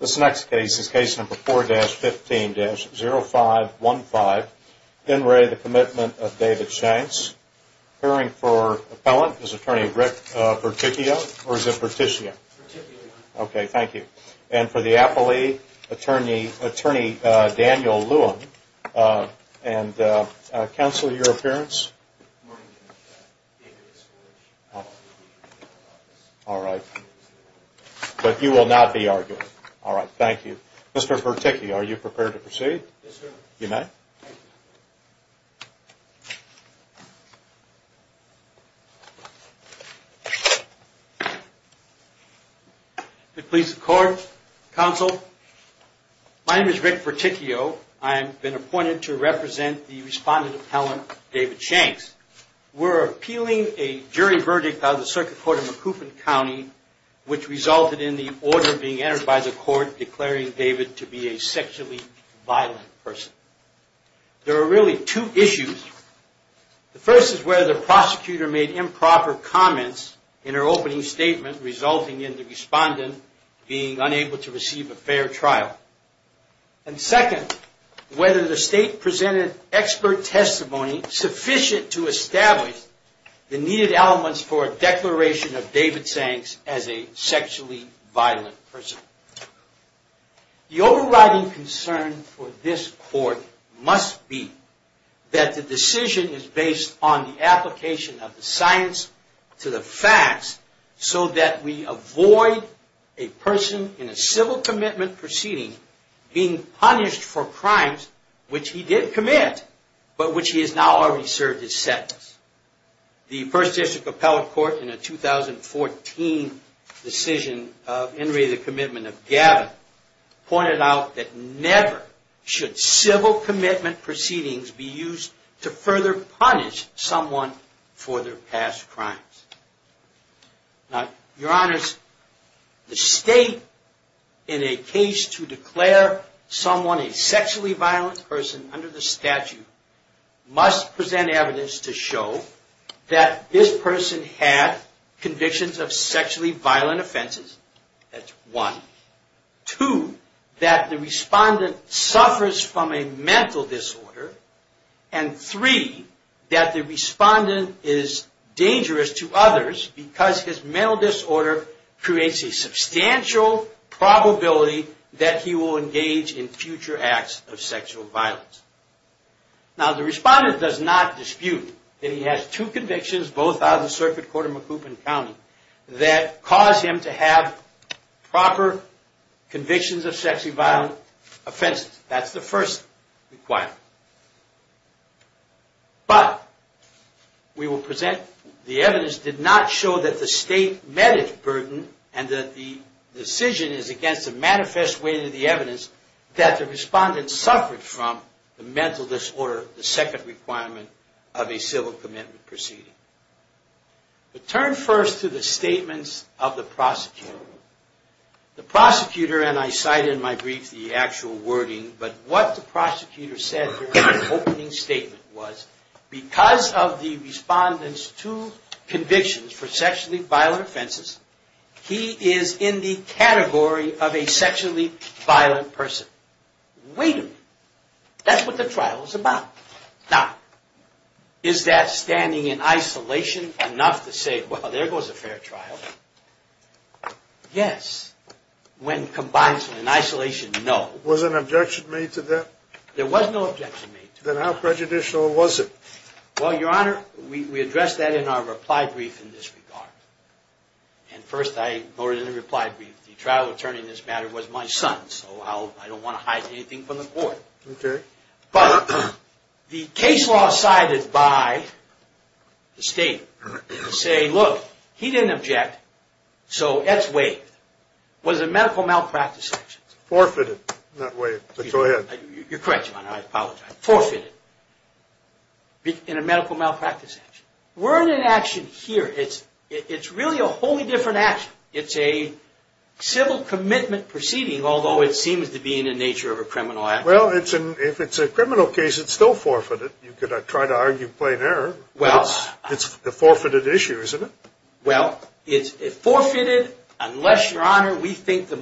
This next case is case number 4-15-0515. In re The Commitment of David Shanks. Appearing for appellant is Attorney Rick Perticchio or is it Perticchio? Perticchio. Okay, thank you. And for the appellee, Attorney Daniel Lewin. And counsel, your appearance? Good morning, Mr. Chairman. David is here. All right. But you will not be arguing. All right, thank you. Mr. Perticchio, are you prepared to proceed? Yes, sir. You may. If it pleases the court, counsel, my name is Rick Perticchio. I have been appointed to represent the respondent appellant, David Shanks. We're appealing a jury verdict by the Circuit Court of Macoupin County, which resulted in the order being entered by the court declaring David to be a sexually violent person. There are really two issues. The first is whether the prosecutor made improper comments in her opening statement, resulting in the respondent being unable to receive a fair trial. And second, whether the state presented expert testimony sufficient to establish the needed elements for a declaration of David Shanks as a sexually violent person. The overriding concern for this court must be that the decision is based on the application of the science to the facts so that we avoid a person in a civil commitment proceeding being punished for crimes which he did commit, but which he has now already served his sentence. The First District Appellate Court in a 2014 decision of Henry, the commitment of Gavin, pointed out that never should civil commitment proceedings be used to further punish someone for their past crimes. Now, your honors, the state, in a case to declare someone a sexually violent person under the statute, must present evidence to show that this person had convictions of sexually violent offenses. That's one. Two, that the respondent suffers from a mental disorder. And three, that the respondent is dangerous to others because his mental disorder creates a substantial probability that he will engage in future acts of sexual violence. Now, the respondent does not dispute that he has two convictions, both out of the Circuit Court of McCoupin County, that cause him to have proper convictions of sexually violent offenses. That's the first requirement. But we will present the evidence did not show that the state met its burden and that the decision is against a manifest way to the evidence that the respondent suffered from the mental disorder, the second requirement of a civil commitment proceeding. But turn first to the statements of the prosecutor. The prosecutor, and I cite in my brief the actual wording, but what the prosecutor said in his opening statement was, because of the respondent's two convictions for sexually violent offenses, he is in the category of a sexually violent person. Wait a minute. That's what the trial is about. Now, is that standing in isolation enough to say, well, there goes a fair trial? Yes. When combined in isolation, no. Was an objection made to that? There was no objection made to that. Then how prejudicial was it? Well, Your Honor, we addressed that in our reply brief in this regard. And first I noted in the reply brief the trial attorney in this matter was my son, so I don't want to hide anything from the court. Okay. But the case law sided by the state to say, look, he didn't object, so it's waived. Was a medical malpractice action. Forfeited, not waived. Go ahead. You're correct, Your Honor. I apologize. Forfeited in a medical malpractice action. We're in an action here. It's really a wholly different action. It's a civil commitment proceeding, although it seems to be in the nature of a criminal act. Well, if it's a criminal case, it's still forfeited. You could try to argue plain error. It's a forfeited issue, isn't it? Well, it's forfeited unless, Your Honor, we think the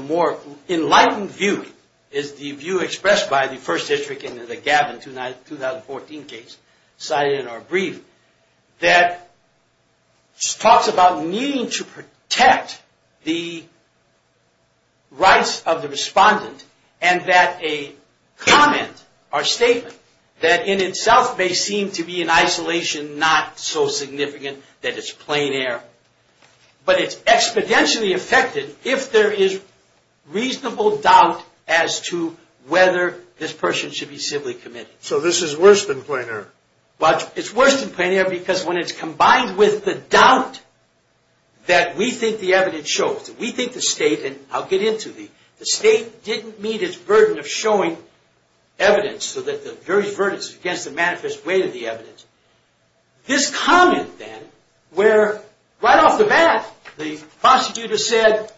more enlightened view is the view expressed by the first district and the Gavin 2014 case cited in our brief that talks about needing to protect the rights of the respondent and that a comment or statement that in itself may seem to be in isolation, not so significant that it's plain error, but it's exponentially affected if there is reasonable doubt as to whether this person should be civilly committed. So this is worse than plain error? Well, it's worse than plain error because when it's combined with the doubt that we think the evidence shows, that we think the State, and I'll get into the State, didn't meet its burden of showing evidence so that the very burden is against the manifest way of the evidence. This comment, then, where right off the bat the prosecutor said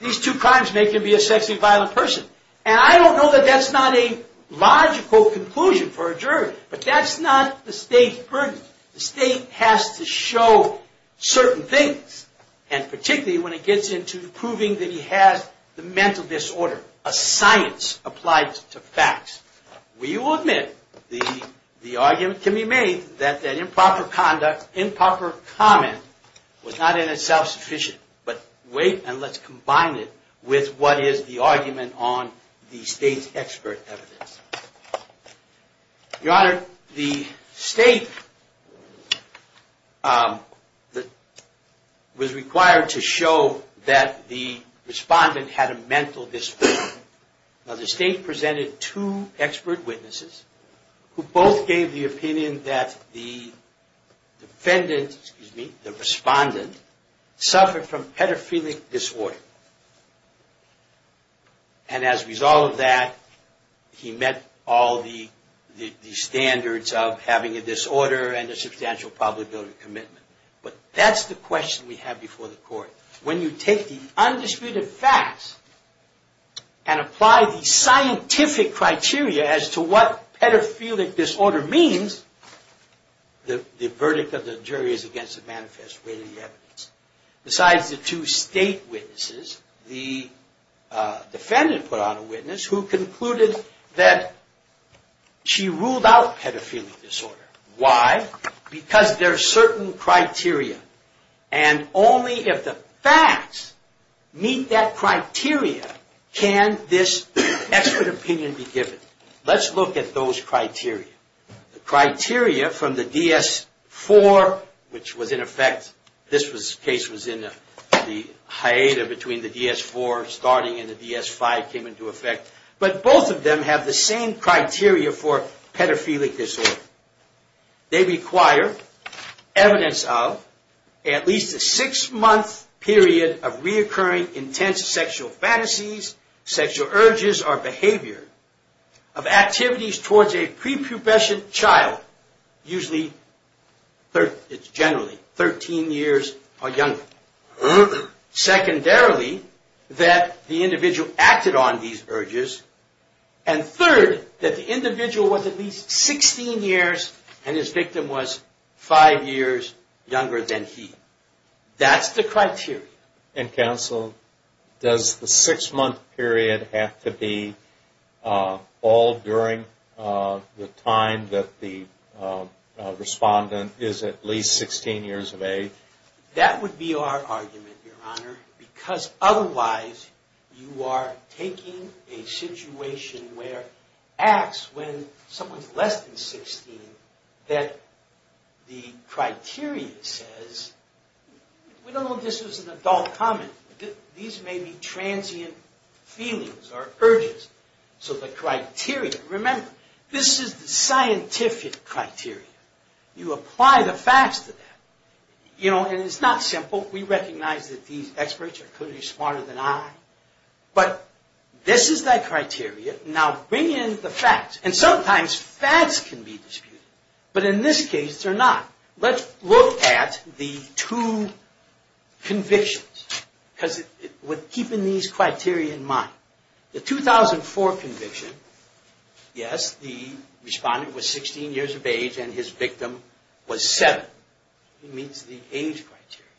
these two crimes make him be a sexually violent person, and I don't know that that's not a logical conclusion for a jury, but that's not the State's burden. The State has to show certain things, and particularly when it gets into proving that he has the mental disorder, a science applied to facts. We will admit the argument can be made that improper comment was not in itself sufficient, but wait and let's combine it with what is the argument on the State's expert evidence. Your Honor, the State was required to show that the respondent had a mental disorder. Now, the State presented two expert witnesses who both gave the opinion that the defendant, excuse me, the respondent, suffered from pedophilic disorder, and as a result of that he met all the standards of having a disorder and a substantial probability of commitment. But that's the question we have before the Court. When you take the undisputed facts and apply the scientific criteria as to what pedophilic disorder means, the verdict of the jury is against the manifest way of the evidence. Besides the two State witnesses, the defendant put on a witness who concluded that she ruled out pedophilic disorder. Why? Because there are certain criteria, and only if the facts meet that criteria can this expert opinion be given. Let's look at those criteria. The criteria from the DS-4, which was in effect, this case was in the hiatus between the DS-4 starting and the DS-5 came into effect, but both of them have the same criteria for pedophilic disorder. They require evidence of at least a six-month period of reoccurring intense sexual fantasies, sexual urges, or behavior of activities towards a prepubescent child, usually generally 13 years or younger. Secondarily, that the individual acted on these urges, and third, that the individual was at least 16 years and his victim was five years younger than he. That's the criteria. And counsel, does the six-month period have to be all during the time that the respondent is at least 16 years of age? That would be our argument, Your Honor, because otherwise you are taking a situation where acts when someone's less than 16, that the criteria says, we don't know if this was an adult comment, these may be transient feelings or urges. So the criteria, remember, this is the scientific criteria. You apply the facts to that. And it's not simple. We recognize that these experts are clearly smarter than I. But this is that criteria. Now bring in the facts. And sometimes facts can be disputed. But in this case, they're not. Let's look at the two convictions, keeping these criteria in mind. The 2004 conviction, yes, the respondent was 16 years of age and his victim was seven. It meets the age criteria.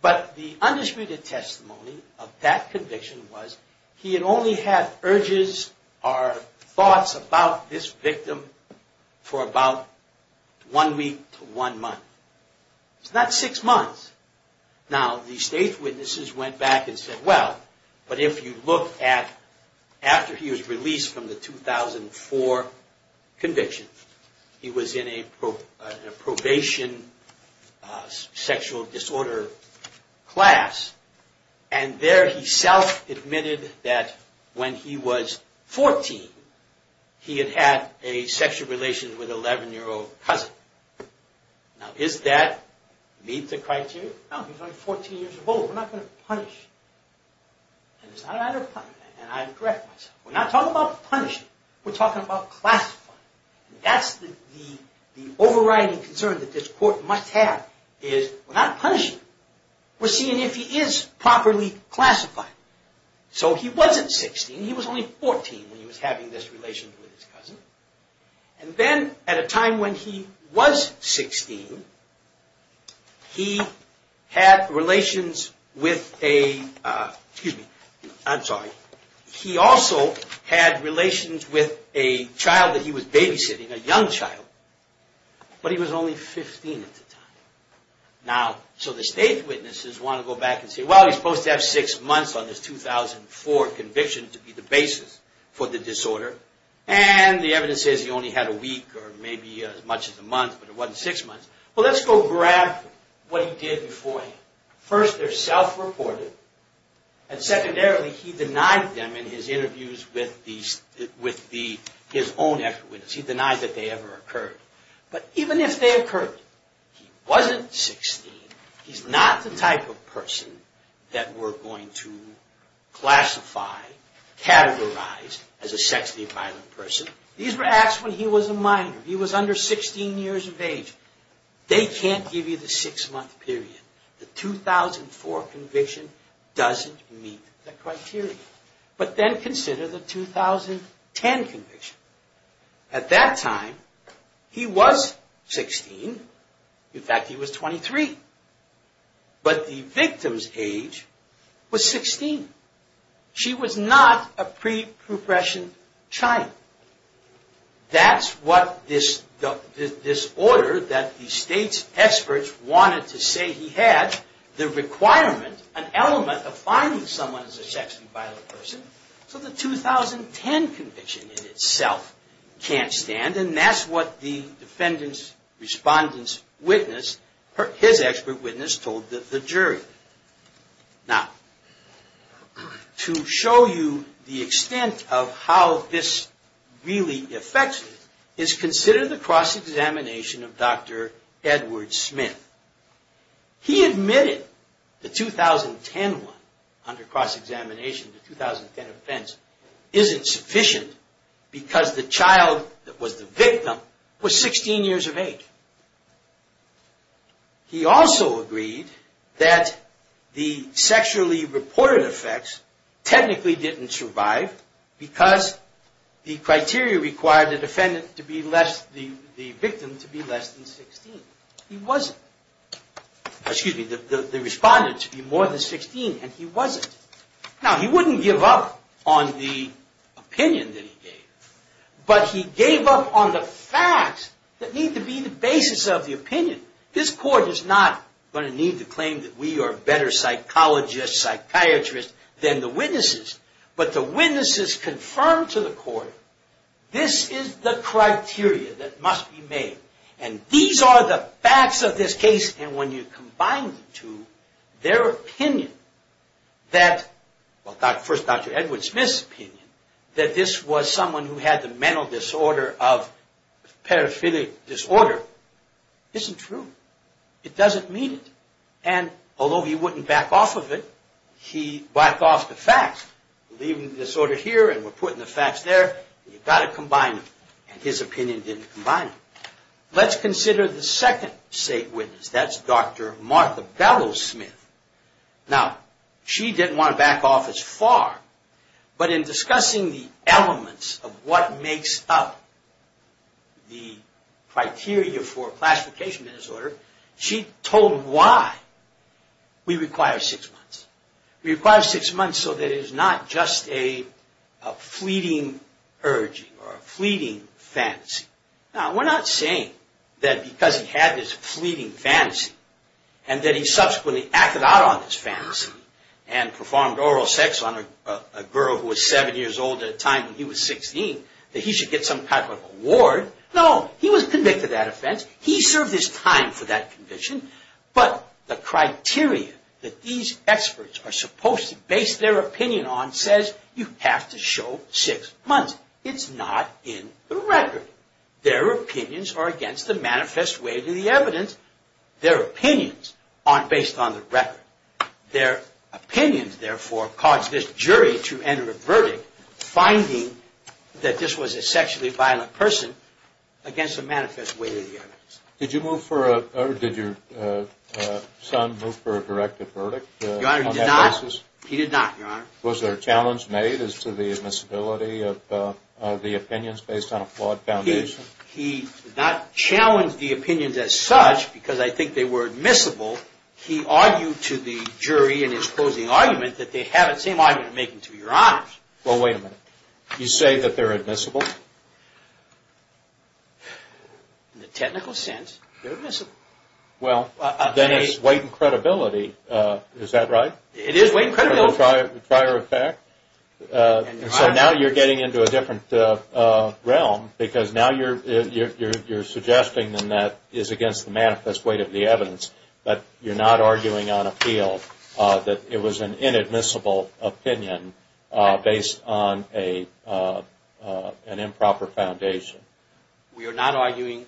But the undisputed testimony of that conviction was he had only had urges or thoughts about this victim for about one week to one month. It's not six months. Now the state witnesses went back and said, well, but if you look at after he was released from the 2004 conviction, he was in a probation sexual disorder class. And there he self-admitted that when he was 14, he had had a sexual relation with an 11-year-old cousin. Now does that meet the criteria? No, he was only 14 years of age. We're not going to punish him. And it's not a matter of punishing him. And I correct myself. We're not talking about punishing him. We're talking about classifying him. And that's the overriding concern that this court must have is we're not punishing him. We're seeing if he is properly classified. He was only 14 when he was having this relation with his cousin. And then at a time when he was 16, he had relations with a child that he was babysitting, a young child. But he was only 15 at the time. Now, so the state witnesses want to go back and say, well, he's supposed to have six months on this 2004 conviction to be the basis for the disorder. And the evidence says he only had a week or maybe as much as a month, but it wasn't six months. Well, let's go grab what he did before. First, they're self-reported. And secondarily, he denied them in his interviews with his own extra witnesses. He denied that they ever occurred. But even if they occurred, he wasn't 16. He's not the type of person that we're going to classify, categorize as a sexually violent person. These were acts when he was a minor. He was under 16 years of age. They can't give you the six-month period. The 2004 conviction doesn't meet the criteria. But then consider the 2010 conviction. At that time, he was 16. In fact, he was 23. But the victim's age was 16. She was not a pre-progression child. That's what this disorder that the state's experts wanted to say he had, the requirement, an element of finding someone as a sexually violent person. So the 2010 conviction in itself can't stand. And that's what the defendant's respondent's witness, his expert witness, told the jury. Now, to show you the extent of how this really affects you is consider the cross-examination of Dr. Edward Smith. He admitted the 2010 one under cross-examination, the 2010 offense, isn't sufficient because the child that was the victim was 16 years of age. He also agreed that the sexually reported effects technically didn't survive because the criteria required the victim to be less than 16. He wasn't. Excuse me, the respondent to be more than 16, and he wasn't. Now, he wouldn't give up on the opinion that he gave. But he gave up on the facts that need to be the basis of the opinion. This court is not going to need to claim that we are better psychologists, psychiatrists, than the witnesses. But the witnesses confirmed to the court, this is the criteria that must be made. And these are the facts of this case. And when you combine the two, their opinion that, well, first Dr. Edward Smith's opinion, that this was someone who had the mental disorder of paraphiliac disorder, isn't true. It doesn't mean it. And although he wouldn't back off of it, he backed off the facts. Leaving the disorder here, and we're putting the facts there. You've got to combine them. And his opinion didn't combine them. Let's consider the second state witness. That's Dr. Martha Bellows Smith. Now, she didn't want to back off as far. But in discussing the elements of what makes up the criteria for classification disorder, she told why we require six months. We require six months so that it is not just a fleeting urging, or a fleeting fantasy. Now, we're not saying that because he had this fleeting fantasy, and that he subsequently acted out on this fantasy, and performed oral sex on a girl who was seven years old at a time when he was 16, that he should get some type of award. No, he was convicted of that offense. He served his time for that conviction. But the criteria that these experts are supposed to base their opinion on says you have to show six months. It's not in the record. Their opinions are against the manifest way to the evidence. Their opinions aren't based on the record. Their opinions, therefore, cause this jury to enter a verdict finding that this was a sexually violent person against the manifest way to the evidence. Did your son move for a directive verdict on that basis? Your Honor, he did not. He did not, Your Honor. Was there a challenge made as to the admissibility of the opinions based on a flawed foundation? He did not challenge the opinions as such because I think they were admissible. He argued to the jury in his closing argument that they have the same argument to make to Your Honors. Well, wait a minute. You say that they're admissible? In the technical sense, they're admissible. Well, then it's weight and credibility. Is that right? It is weight and credibility. Prior effect. So now you're getting into a different realm because now you're suggesting that that is against the manifest way to the evidence, but you're not arguing on appeal that it was an inadmissible opinion based on an improper foundation. We are not arguing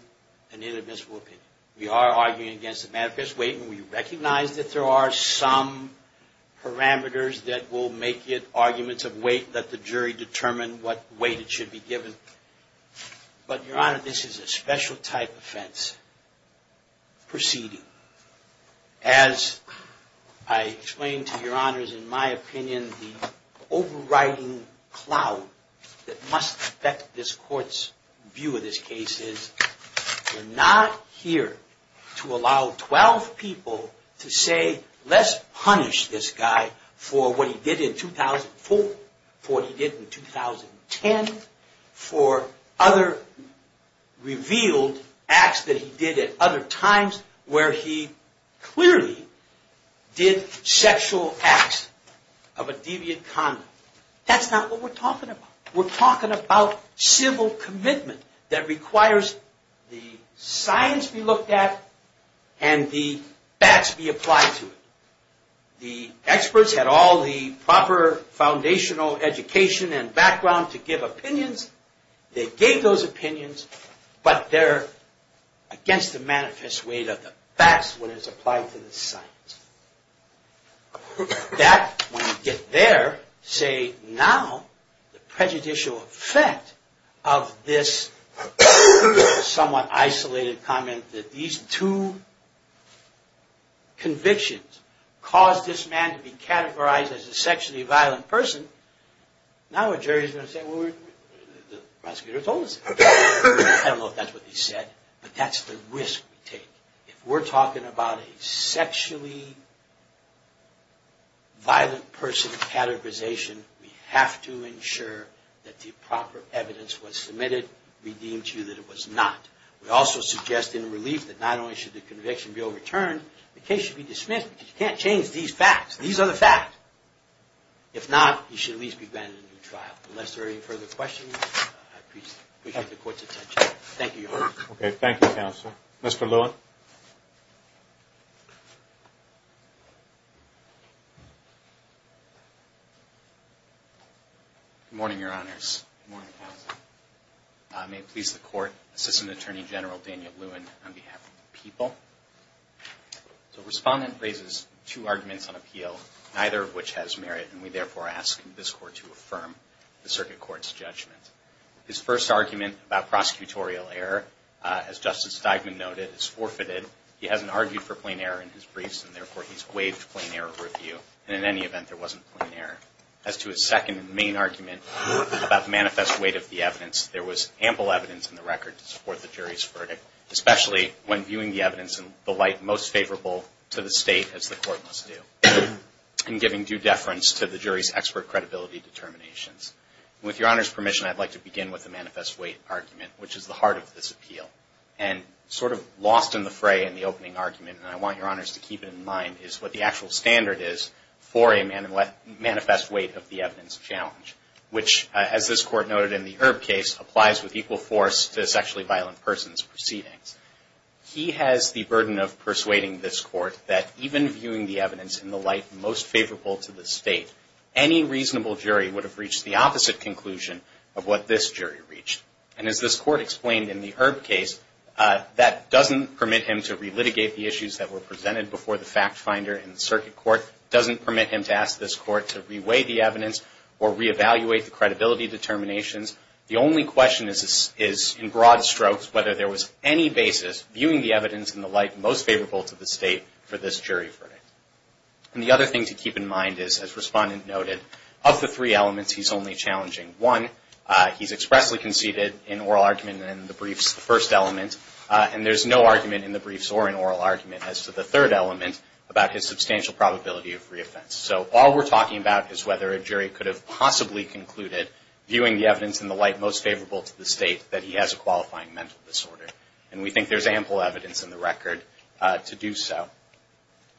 an inadmissible opinion. We are arguing against the manifest way and we recognize that there are some parameters that will make it arguments of weight that the jury determine what weight it should be given. But Your Honor, this is a special type offense proceeding. As I explained to Your Honors, in my opinion, the overriding cloud that must affect this court's view of this case is we're not here to allow 12 people to say, let's punish this guy for what he did in 2004, for what he did in 2010, for other revealed acts that he did at other times where he clearly did sexual acts of a deviant conduct. That's not what we're talking about. We're talking about civil commitment that requires the science be looked at and the facts be applied to it. The experts had all the proper foundational education and background to give opinions. They gave those opinions, but they're against the manifest way of the facts when it's applied to the science. That, when you get there, say now the prejudicial effect of this somewhat isolated comment that these two convictions caused this man to be categorized as a sexually violent person, now a jury is going to say, well, the prosecutor told us that. I don't know if that's what he said, but that's the risk we take. If we're talking about a sexually violent person categorization, we have to ensure that the proper evidence was submitted, redeemed to you that it was not. We also suggest in relief that not only should the conviction be overturned, the case should be dismissed because you can't change these facts. These are the facts. If not, he should at least be granted a new trial. Unless there are any further questions, I appreciate the court's attention. Thank you, Your Honor. Okay, thank you, Counsel. Mr. Lewin. Good morning, Your Honors. Good morning, Counsel. May it please the Court, Assistant Attorney General Daniel Lewin on behalf of the people. The Respondent raises two arguments on appeal, neither of which has merit, and we therefore ask this Court to affirm the Circuit Court's judgment. His first argument about prosecutorial error, as Justice Steigman noted, is forfeited. He hasn't argued for plain error in his briefs, and therefore he's waived plain error review. And in any event, there wasn't plain error. As to his second main argument about the manifest weight of the evidence, there was ample evidence in the record to support the jury's verdict, especially when viewing the evidence in the light most favorable to the State, as the Court must do, and giving due deference to the jury's expert credibility determinations. With Your Honor's permission, I'd like to begin with the manifest weight argument, which is the heart of this appeal. And sort of lost in the fray in the opening argument, and I want Your Honors to keep it in mind, is what the actual standard is for a manifest weight of the evidence challenge, which, as this Court noted in the Erb case, applies with equal force to a sexually violent person's proceedings. He has the burden of persuading this Court that even viewing the evidence in the light most favorable to the State, any reasonable jury would have reached the opposite conclusion of what this jury reached. And as this Court explained in the Erb case, that doesn't permit him to re-litigate the issues that were presented before the fact finder in the circuit court, doesn't permit him to ask this Court to re-weigh the evidence or re-evaluate the credibility determinations. The only question is in broad strokes whether there was any basis viewing the evidence in the light most favorable to the State for this jury verdict. And the other thing to keep in mind is, as Respondent noted, of the three elements he's only challenging one, he's expressly conceded in oral argument in the briefs, the first element, and there's no argument in the briefs or in oral argument as to the third element about his substantial probability of re-offense. So all we're talking about is whether a jury could have possibly concluded, viewing the evidence in the light most favorable to the State, that he has a qualifying mental disorder. And we think there's ample evidence in the record to do so.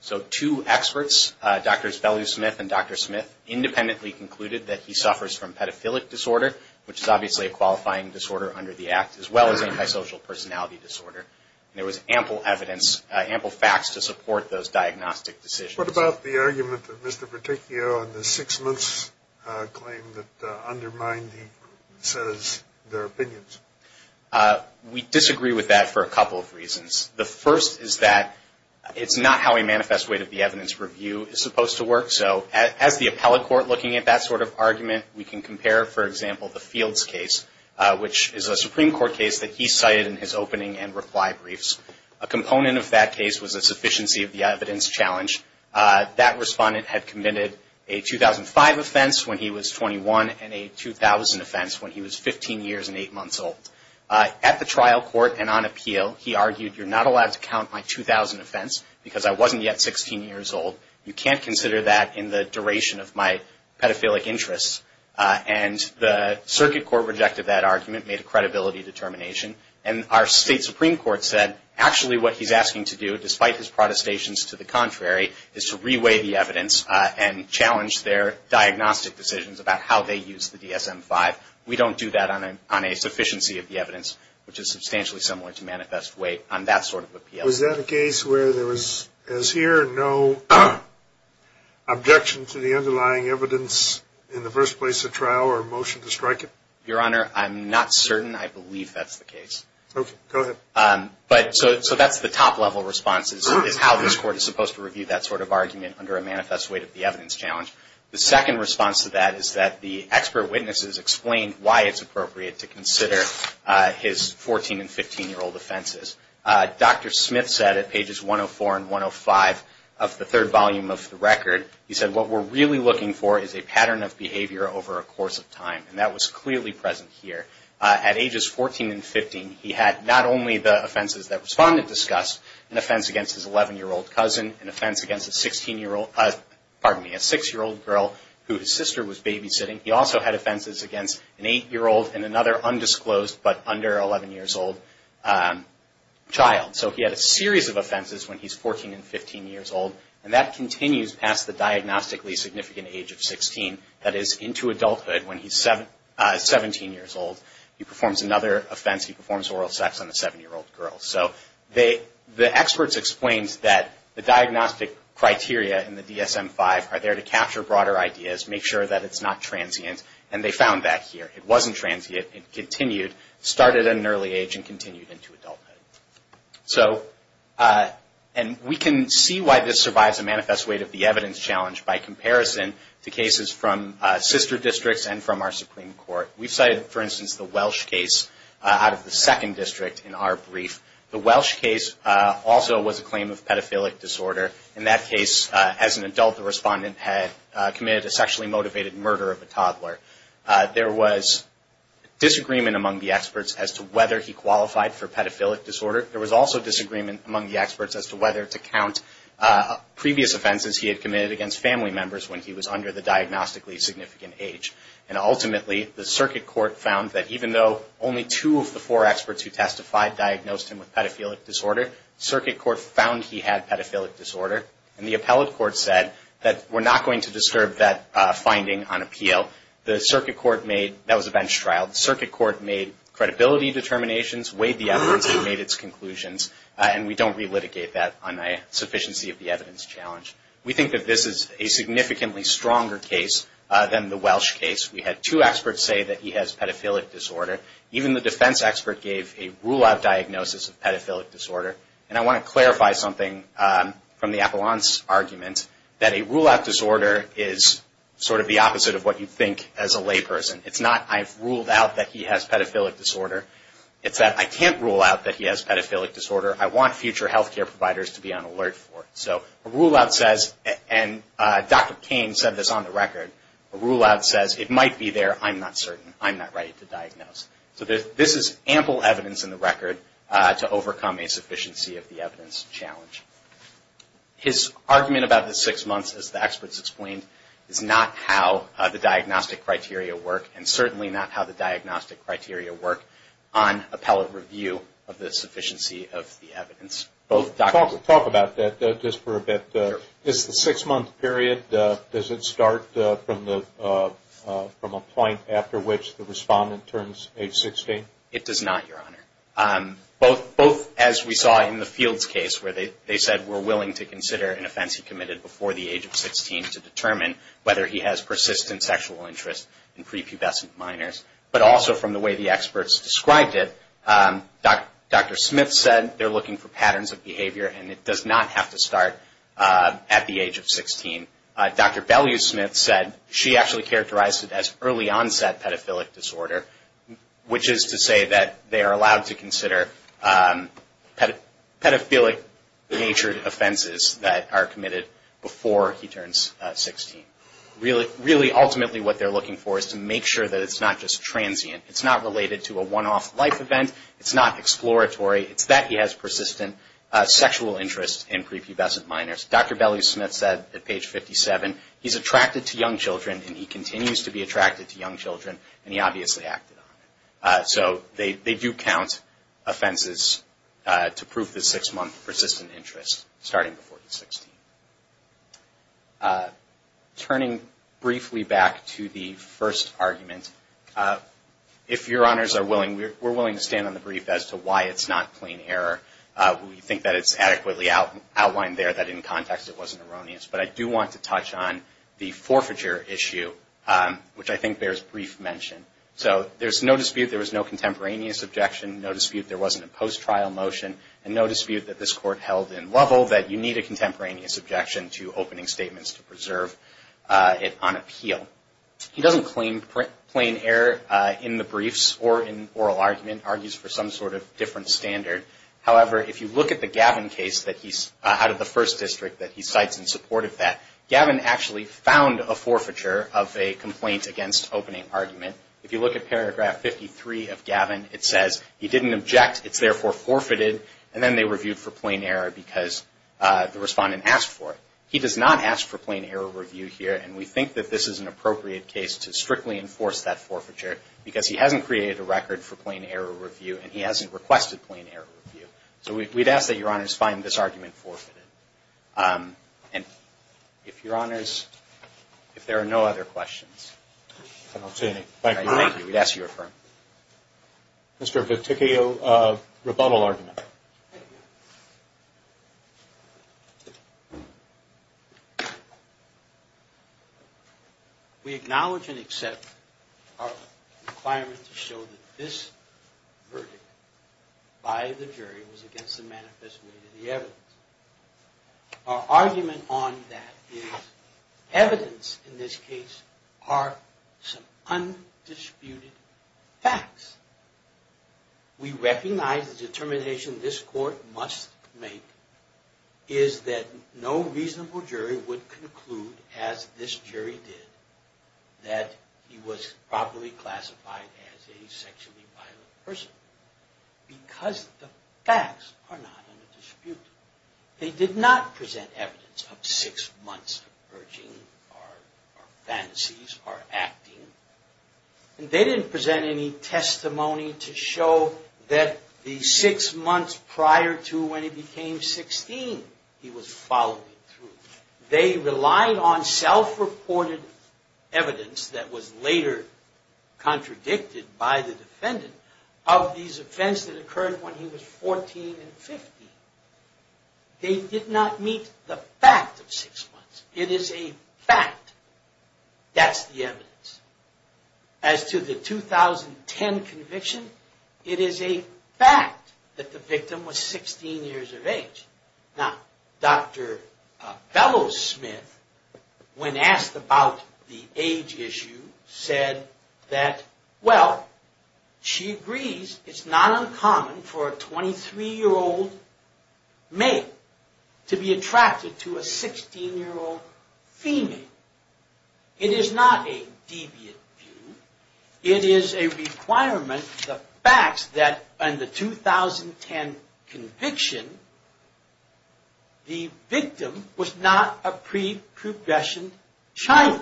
So two experts, Drs. Bellew-Smith and Dr. Smith, independently concluded that he suffers from pedophilic disorder, which is obviously a qualifying disorder under the Act, as well as antisocial personality disorder. And there was ample evidence, ample facts to support those diagnostic decisions. What about the argument that Mr. Verticchio in the six months claim that undermined the set of their opinions? The first is that it's not how a manifest weight of the evidence review is supposed to work. So as the appellate court looking at that sort of argument, we can compare, for example, the Fields case, which is a Supreme Court case that he cited in his opening and reply briefs. A component of that case was a sufficiency of the evidence challenge. That Respondent had committed a 2005 offense when he was 21 and a 2000 offense when he was 15 years and 8 months old. At the trial court and on appeal, he argued, you're not allowed to count my 2000 offense because I wasn't yet 16 years old. You can't consider that in the duration of my pedophilic interests. And the circuit court rejected that argument, made a credibility determination. And our state Supreme Court said actually what he's asking to do, despite his protestations to the contrary, is to reweigh the evidence and challenge their diagnostic decisions about how they use the DSM-5. We don't do that on a sufficiency of the evidence, which is substantially similar to manifest weight on that sort of appeal. Was that a case where there was, as here, no objection to the underlying evidence in the first place of trial or motion to strike it? Your Honor, I'm not certain. I believe that's the case. Okay. Go ahead. So that's the top level response is how this court is supposed to review that sort of argument under a manifest weight of the evidence challenge. The second response to that is that the expert witnesses explained why it's appropriate to consider his 14 and 15-year-old offenses. Dr. Smith said at pages 104 and 105 of the third volume of the record, he said, what we're really looking for is a pattern of behavior over a course of time. And that was clearly present here. At ages 14 and 15, he had not only the offenses that Respondent discussed, an offense against his 11-year-old cousin, an offense against a 16-year-old, pardon me, a 6-year-old girl who his sister was babysitting. He also had offenses against an 8-year-old and another undisclosed but under 11-years-old child. So he had a series of offenses when he's 14 and 15 years old, and that continues past the diagnostically significant age of 16, that is into adulthood when he's 17 years old. He performs another offense. He performs oral sex on a 7-year-old girl. So the experts explained that the diagnostic criteria in the DSM-5 are there to capture broader ideas, make sure that it's not transient, and they found that here. It wasn't transient. It continued, started at an early age and continued into adulthood. And we can see why this survives a manifest weight of the evidence challenge by comparison to cases from sister districts and from our Supreme Court. We've cited, for instance, the Welsh case out of the second district in our brief. The Welsh case also was a claim of pedophilic disorder. In that case, as an adult, the respondent had committed a sexually motivated murder of a toddler. There was disagreement among the experts as to whether he qualified for pedophilic disorder. There was also disagreement among the experts as to whether to count previous offenses he had committed against family members when he was under the diagnostically significant age. And ultimately, the circuit court found that even though only two of the four experts who testified diagnosed him with pedophilic disorder, the circuit court found he had pedophilic disorder. And the appellate court said that we're not going to disturb that finding on appeal. The circuit court made – that was a bench trial. The circuit court made credibility determinations, weighed the evidence, and made its conclusions. And we don't relitigate that on a sufficiency of the evidence challenge. We think that this is a significantly stronger case than the Welsh case. We had two experts say that he has pedophilic disorder. Even the defense expert gave a rule-out diagnosis of pedophilic disorder. And I want to clarify something from the appellant's argument, that a rule-out disorder is sort of the opposite of what you'd think as a layperson. It's not, I've ruled out that he has pedophilic disorder. It's that I can't rule out that he has pedophilic disorder. I want future health care providers to be on alert for it. So a rule-out says, and Dr. Payne said this on the record, a rule-out says, it might be there, I'm not certain, I'm not ready to diagnose. So this is ample evidence in the record to overcome a sufficiency of the evidence challenge. His argument about the six months, as the experts explained, is not how the diagnostic criteria work, and certainly not how the diagnostic criteria work on appellate review of the sufficiency of the evidence. Talk about that just for a bit. Is the six-month period, does it start from a point after which the respondent turns age 16? It does not, Your Honor. Both as we saw in the Fields case where they said we're willing to consider an offense he committed before the age of 16 to determine whether he has persistent sexual interest in prepubescent minors, but also from the way the experts described it, Dr. Smith said they're looking for patterns of behavior and it does not have to start at the age of 16. Dr. Bellew-Smith said she actually characterized it as early-onset pedophilic disorder, which is to say that they are allowed to consider pedophilic-natured offenses that are committed before he turns 16. Really, ultimately what they're looking for is to make sure that it's not just transient. It's not related to a one-off life event. It's not exploratory. It's that he has persistent sexual interest in prepubescent minors. Dr. Bellew-Smith said at page 57, he's attracted to young children and he continues to be attracted to young children and he obviously acted on it. So they do count offenses to prove the six-month persistent interest starting before he's 16. Turning briefly back to the first argument, if Your Honors are willing, we're willing to stand on the brief as to why it's not plain error. We think that it's adequately outlined there, that in context it wasn't erroneous, but I do want to touch on the forfeiture issue, which I think bears brief mention. So there's no dispute there was no contemporaneous objection, no dispute there wasn't a post-trial motion, and no dispute that this Court held in Lovell that you need a contemporaneous objection to opening statements to preserve it on appeal. He doesn't claim plain error in the briefs or in oral argument, argues for some sort of different standard. However, if you look at the Gavin case out of the First District that he cites in support of that, Gavin actually found a forfeiture of a complaint against opening argument. If you look at paragraph 53 of Gavin, it says he didn't object, it's therefore forfeited, and then they reviewed for plain error because the respondent asked for it. He does not ask for plain error review here, and we think that this is an appropriate case to strictly enforce that forfeiture because he hasn't created a record for plain error review and he hasn't requested plain error review. So we'd ask that Your Honors find this argument forfeited. And if Your Honors, if there are no other questions. I don't see any. Thank you. Thank you. We'd ask you to affirm. Mr. Viticchio, rebuttal argument. Thank you. We acknowledge and accept our requirement to show that this verdict by the jury was against the manifest way of the evidence. Our argument on that is evidence in this case are some undisputed facts. We recognize the determination this court must make is that no reasonable jury would conclude, as this jury did, that he was properly classified as a sexually violent person because the facts are not undisputed. They did not present evidence of six months of urging or fantasies or acting. They didn't present any testimony to show that the six months prior to when he became 16, he was following through. They relied on self-reported evidence that was later contradicted by the defendant of these events that occurred when he was 14 and 15. They did not meet the fact of six months. It is a fact. That's the evidence. As to the 2010 conviction, it is a fact that the victim was 16 years of age. Now, Dr. Bellows-Smith, when asked about the age issue, said that, well, she agrees it's not uncommon for a 23-year-old male to be attracted to a 16-year-old female. It is not a deviant view. It is a requirement, the facts, that in the 2010 conviction, the victim was not a pre-progression child.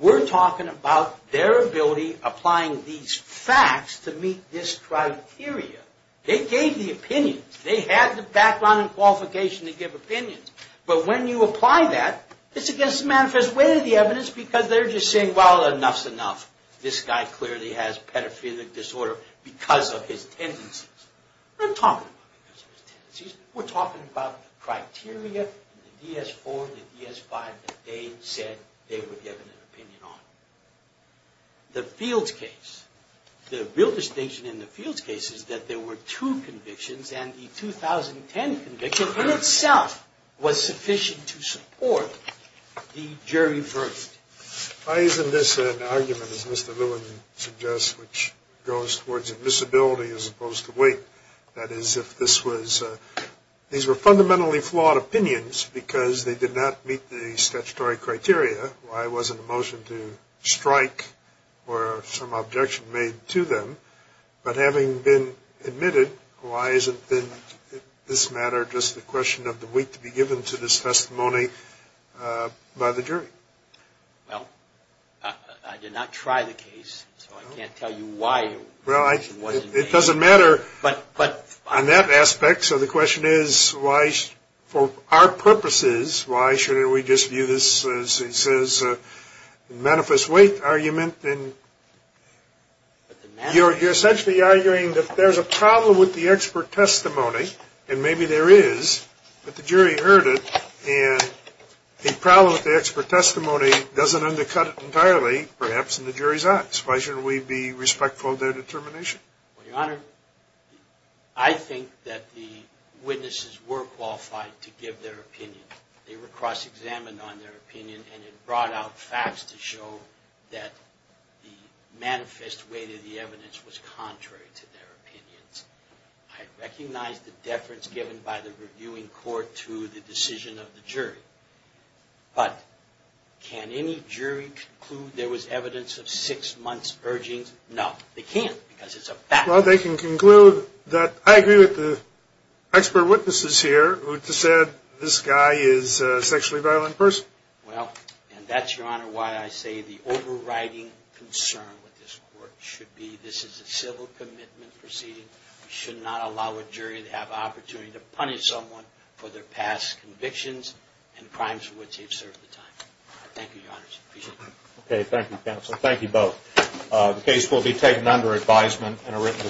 We're talking about their ability applying these facts to meet this criteria. They gave the opinions. They had the background and qualification to give opinions. But when you apply that, it's against the manifest way of the evidence because they're just saying, well, enough's enough. This guy clearly has pedophilic disorder because of his tendencies. We're not talking about because of his tendencies. We're talking about the criteria, the DS4, the DS5, that they said they were given an opinion on. The Fields case, the real distinction in the Fields case is that there were two convictions, and the 2010 conviction in itself was sufficient to support the jury verdict. Why isn't this an argument, as Mr. Lewin suggests, which goes towards admissibility as opposed to weight? That is, if these were fundamentally flawed opinions because they did not meet the statutory criteria, why wasn't a motion to strike or some objection made to them? But having been admitted, why isn't this matter just the question of the weight to be given to this testimony by the jury? Well, I did not try the case, so I can't tell you why it wasn't made. It doesn't matter on that aspect. So the question is, for our purposes, why shouldn't we just view this as, he says, a manifest weight argument? You're essentially arguing that there's a problem with the expert testimony, and maybe there is, but the jury heard it, and the problem with the expert testimony doesn't undercut it entirely, perhaps, in the jury's eyes. Why shouldn't we be respectful of their determination? Well, Your Honor, I think that the witnesses were qualified to give their opinion. They were cross-examined on their opinion, and it brought out facts to show that the manifest weight of the evidence was contrary to their opinions. I recognize the deference given by the reviewing court to the decision of the jury. But can any jury conclude there was evidence of six months' urgings? No, they can't, because it's a fact. Well, they can conclude that I agree with the expert witnesses here who said this guy is a sexually violent person. Well, and that's, Your Honor, why I say the overriding concern with this court should be this is a civil commitment proceeding. We should not allow a jury to have the opportunity to punish someone for their past convictions and crimes for which they've served a time. Thank you, Your Honor. Okay, thank you, counsel. Thank you both. The case will be taken under advisement in a written decision.